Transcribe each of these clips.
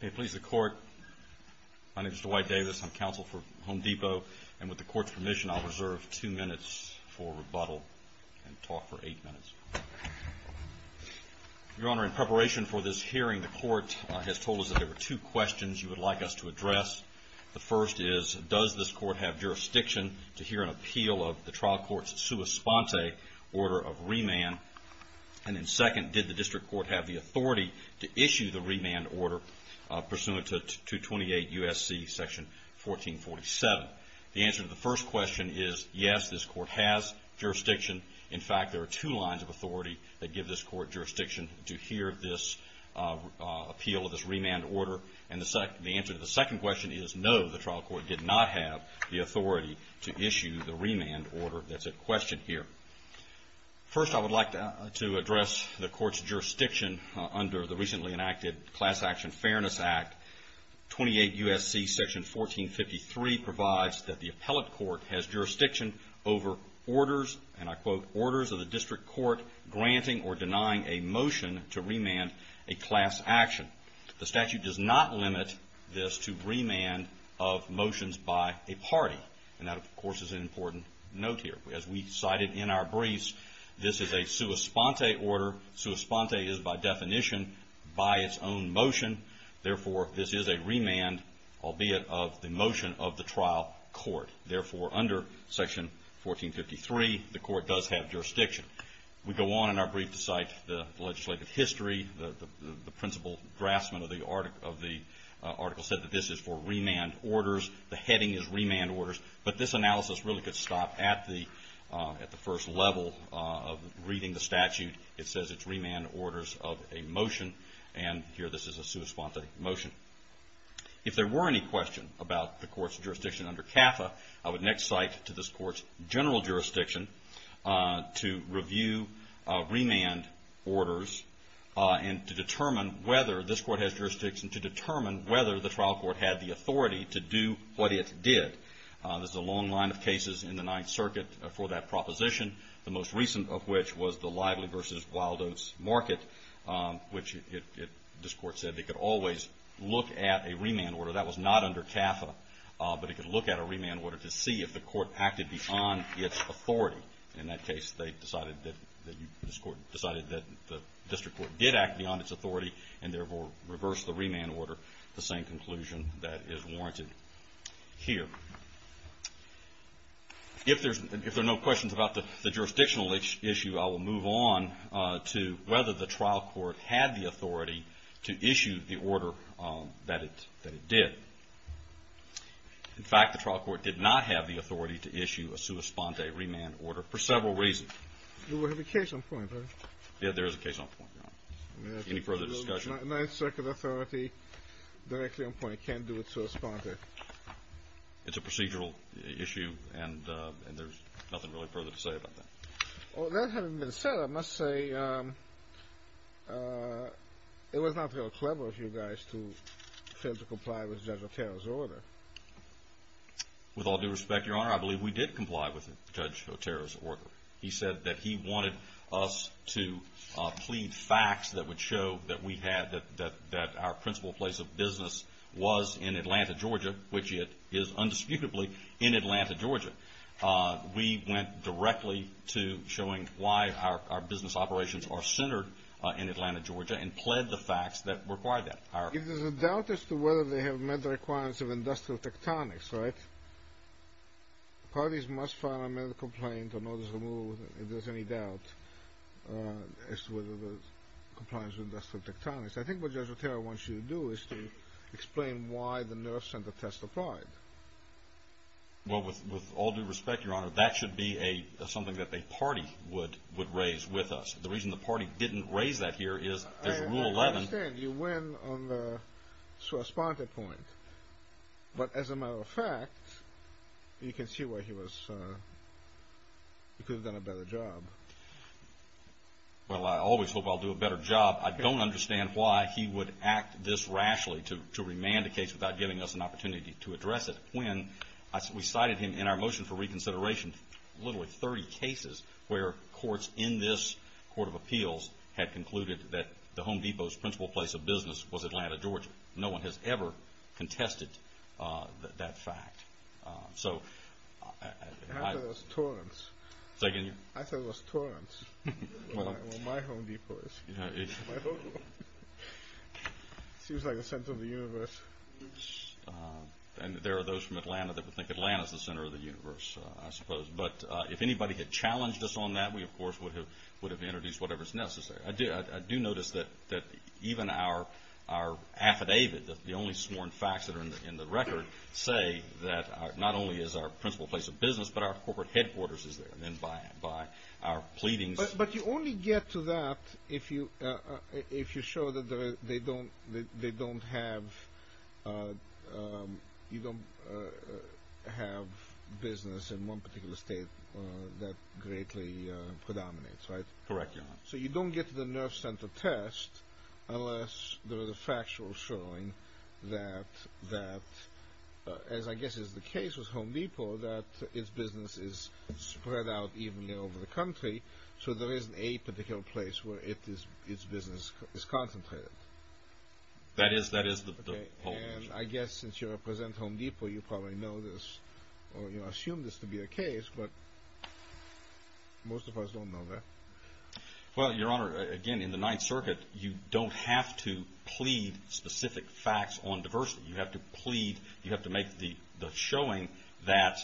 May it please the Court, my name is Dwight Davis, I'm counsel for Home Depot, and with the Court's permission, I'll reserve two minutes for rebuttal and talk for eight minutes. Your Honor, in preparation for this hearing, the Court has told us that there are two questions you would like us to address. The first is, does this Court have jurisdiction to hear an appeal of the trial court's sua sponte order of remand? And then second, did the district court have the authority to issue the remand order pursuant to 228 U.S.C. section 1447? The answer to the first question is, yes, this Court has jurisdiction. In fact, there are two lines of authority that give this Court jurisdiction to hear this appeal of this remand order. And the answer to the second question is, no, the trial court did not have the authority to issue the remand order that's at question here. First I would like to address the Court's jurisdiction under the recently enacted Class Action Fairness Act. 28 U.S.C. section 1453 provides that the appellate court has jurisdiction over orders, and I quote, orders of the district court granting or denying a motion to remand a class action. The statute does not limit this to remand of motions by a party. And that, of course, is an important note here. As we cited in our briefs, this is a sua sponte order. Sua sponte is, by definition, by its own motion. Therefore, this is a remand, albeit of the motion of the trial court. Therefore, under section 1453, the Court does have jurisdiction. We go on in our brief to cite the legislative history. The principal draftsman of the article said that this is for remand orders. The heading is remand orders. But this analysis really could stop at the first level of reading the statute. It says it's remand orders of a motion, and here this is a sua sponte motion. If there were any question about the Court's jurisdiction under CAFA, I would next cite to this Court's general jurisdiction to review remand orders and to determine whether this Court has jurisdiction to determine whether the trial court had the authority to do what it did. There's a long line of cases in the Ninth Circuit for that proposition, the most recent of which was the Lively v. Wildo's Market, which this Court said they could always look at a remand order. That was not under CAFA, but it could look at a remand order to see if the Court acted beyond its authority. In that case, this Court decided that the district court did act beyond its authority and therefore reversed the remand order, the same conclusion that is warranted here. If there are no questions about the jurisdictional issue, I will move on to whether the trial court had the authority to issue the order that it did. In fact, the trial court did not have the authority to issue a sua sponte remand order for several reasons. You have a case on point, right? Yes, there is a case on point, Your Honor. Any further discussion? The Ninth Circuit authority directly on point can't do a sua sponte. It's a procedural issue, and there's nothing really further to say about that. That having been said, I must say it was not very clever of you guys to fail to comply with Judge Otero's order. With all due respect, Your Honor, I believe we did comply with Judge Otero's order. He said that he wanted us to plead facts that would show that we had, that our principal place of business was in Atlanta, Georgia, which it is indisputably in Atlanta, Georgia. We went directly to showing why our business operations are centered in Atlanta, Georgia and pled the facts that required that. If there's a doubt as to whether they have met the requirements of industrial tectonics, right? Parties must file a medical complaint or notice of removal if there's any doubt as to whether it complies with industrial tectonics. I think what Judge Otero wants you to do is to explain why the nerve center test applied. Well, with all due respect, Your Honor, that should be something that a party would raise with us. The reason the party didn't raise that here is there's Rule 11. I understand. You win on the response point. But as a matter of fact, you can see why he was, he could have done a better job. Well, I always hope I'll do a better job. I don't understand why he would act this rashly to remand a case without giving us an opportunity to address it when we cited him in our motion for reconsideration literally 30 cases where courts in this court of appeals had concluded that the Home Depot's principal place of business was Atlanta, Georgia. No one has ever contested that fact. I thought it was Torrance. Say again? I thought it was Torrance, where my Home Depot is. It seems like the center of the universe. And there are those from Atlanta that would think Atlanta's the center of the universe, I suppose. But if anybody had challenged us on that, we, of course, would have introduced whatever is necessary. I do notice that even our affidavit, the only sworn facts that are in the record, say that not only is our principal place of business, but our corporate headquarters is there. And then by our pleadings... But you only get to that if you show that they don't have business in one particular state that greatly predominates, right? Correct. So you don't get to the nerve center test unless there is a factual showing that, as I guess is the case with Home Depot, that its business is spread out evenly over the country, so there isn't a particular place where its business is concentrated. That is the whole motion. And I guess since you represent Home Depot, you probably know this, or assume this to Well, Your Honor, again, in the Ninth Circuit, you don't have to plead specific facts on diversity. You have to plead, you have to make the showing that,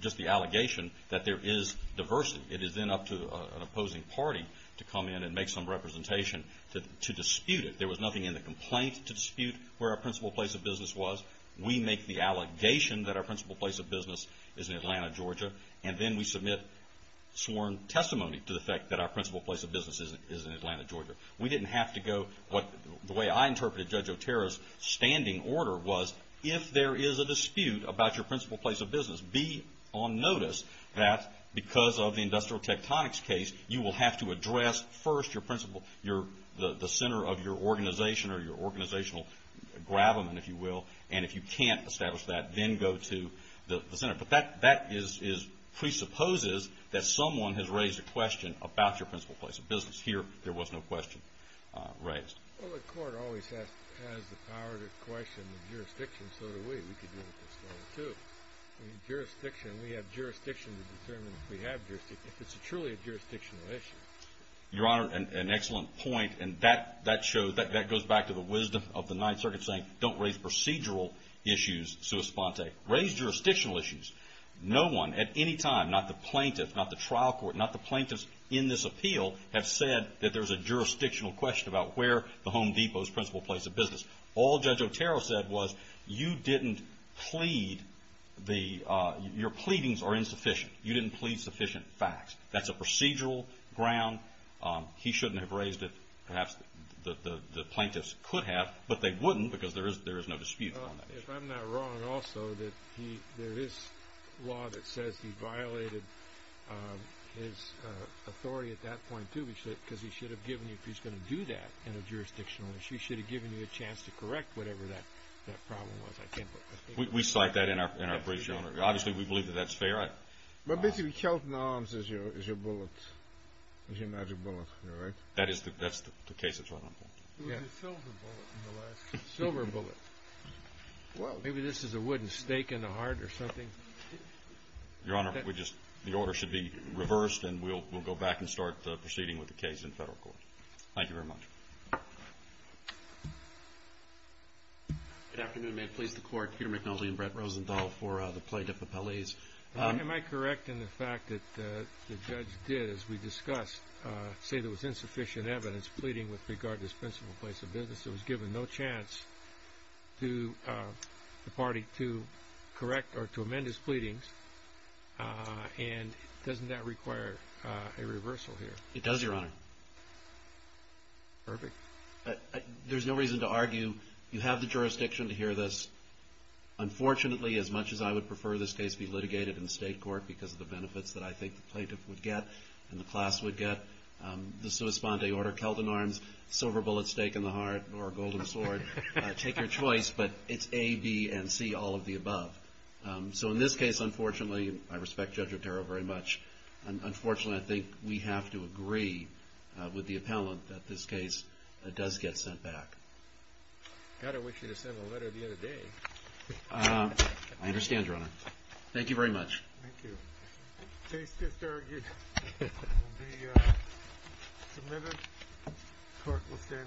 just the allegation that there is diversity. It is then up to an opposing party to come in and make some representation to dispute it. There was nothing in the complaint to dispute where our principal place of business was. We make the allegation that our principal place of business is in testimony to the fact that our principal place of business is in Atlanta, Georgia. We didn't have to go, the way I interpreted Judge Otero's standing order was, if there is a dispute about your principal place of business, be on notice that because of the industrial tectonics case, you will have to address first the center of your organization or your organizational gravamen, if you will, and if you can't establish that, then go to the center. But that presupposes that someone has raised a question about your principal place of business. Here, there was no question raised. Well, the court always has the power to question the jurisdiction, so do we. We could do it this way, too. We have jurisdiction to determine if we have jurisdiction, if it's truly a jurisdictional issue. Your Honor, an excellent point, and that goes back to the wisdom of the Ninth Circuit saying don't raise procedural issues sui sponte. Raise jurisdictional issues. No one at any time, not the plaintiff, not the trial court, not the plaintiffs in this appeal, have said that there's a jurisdictional question about where the Home Depot's principal place of business. All Judge Otero said was, your pleadings are insufficient. You didn't plead sufficient facts. That's a procedural ground. He shouldn't have raised it. Perhaps the plaintiffs could have, but they wouldn't, because there is no dispute on that issue. If I'm not wrong, also, that there is law that says he violated his authority at that point, too, because he should have given you, if he's going to do that in a jurisdictional issue, he should have given you a chance to correct whatever that problem was. I can't put my finger on it. We cite that in our brief, Your Honor. Obviously, we believe that that's fair. But basically, Kelton Arms is your bullet, is your magic bullet, right? That is the case, is what I'm thinking. It was a silver bullet in the last case. A silver bullet. Well, maybe this is a wooden stake in the heart or something. Your Honor, the order should be reversed, and we'll go back and start proceeding with the case in federal court. Thank you very much. Good afternoon. May it please the Court, Peter McNulty and Brett Rosenthal for the plaintiff appellees. Am I correct in the fact that the judge did, as we discussed, say there was insufficient evidence pleading with regard to this principal place of business? It was given no chance to the party to correct or to amend his pleadings, and doesn't that require a reversal here? It does, Your Honor. Perfect. There's no reason to argue. You have the jurisdiction to hear this. Unfortunately, as much as I would prefer this case be litigated in state court because of the benefits that I think the plaintiff would get and the class would get, the sua sponde order, Kelton Arms, silver bullet stake in the heart, or a golden sword, take your choice, but it's A, B, and C, all of the above. So in this case, unfortunately, I respect Judge Otero very much. Unfortunately, I think we have to agree with the appellant that this case does get sent back. God, I wish he'd have sent a letter the other day. I understand, Your Honor. Thank you very much. Thank you. Case disargued. It will be submitted. Court will stand in recess to present.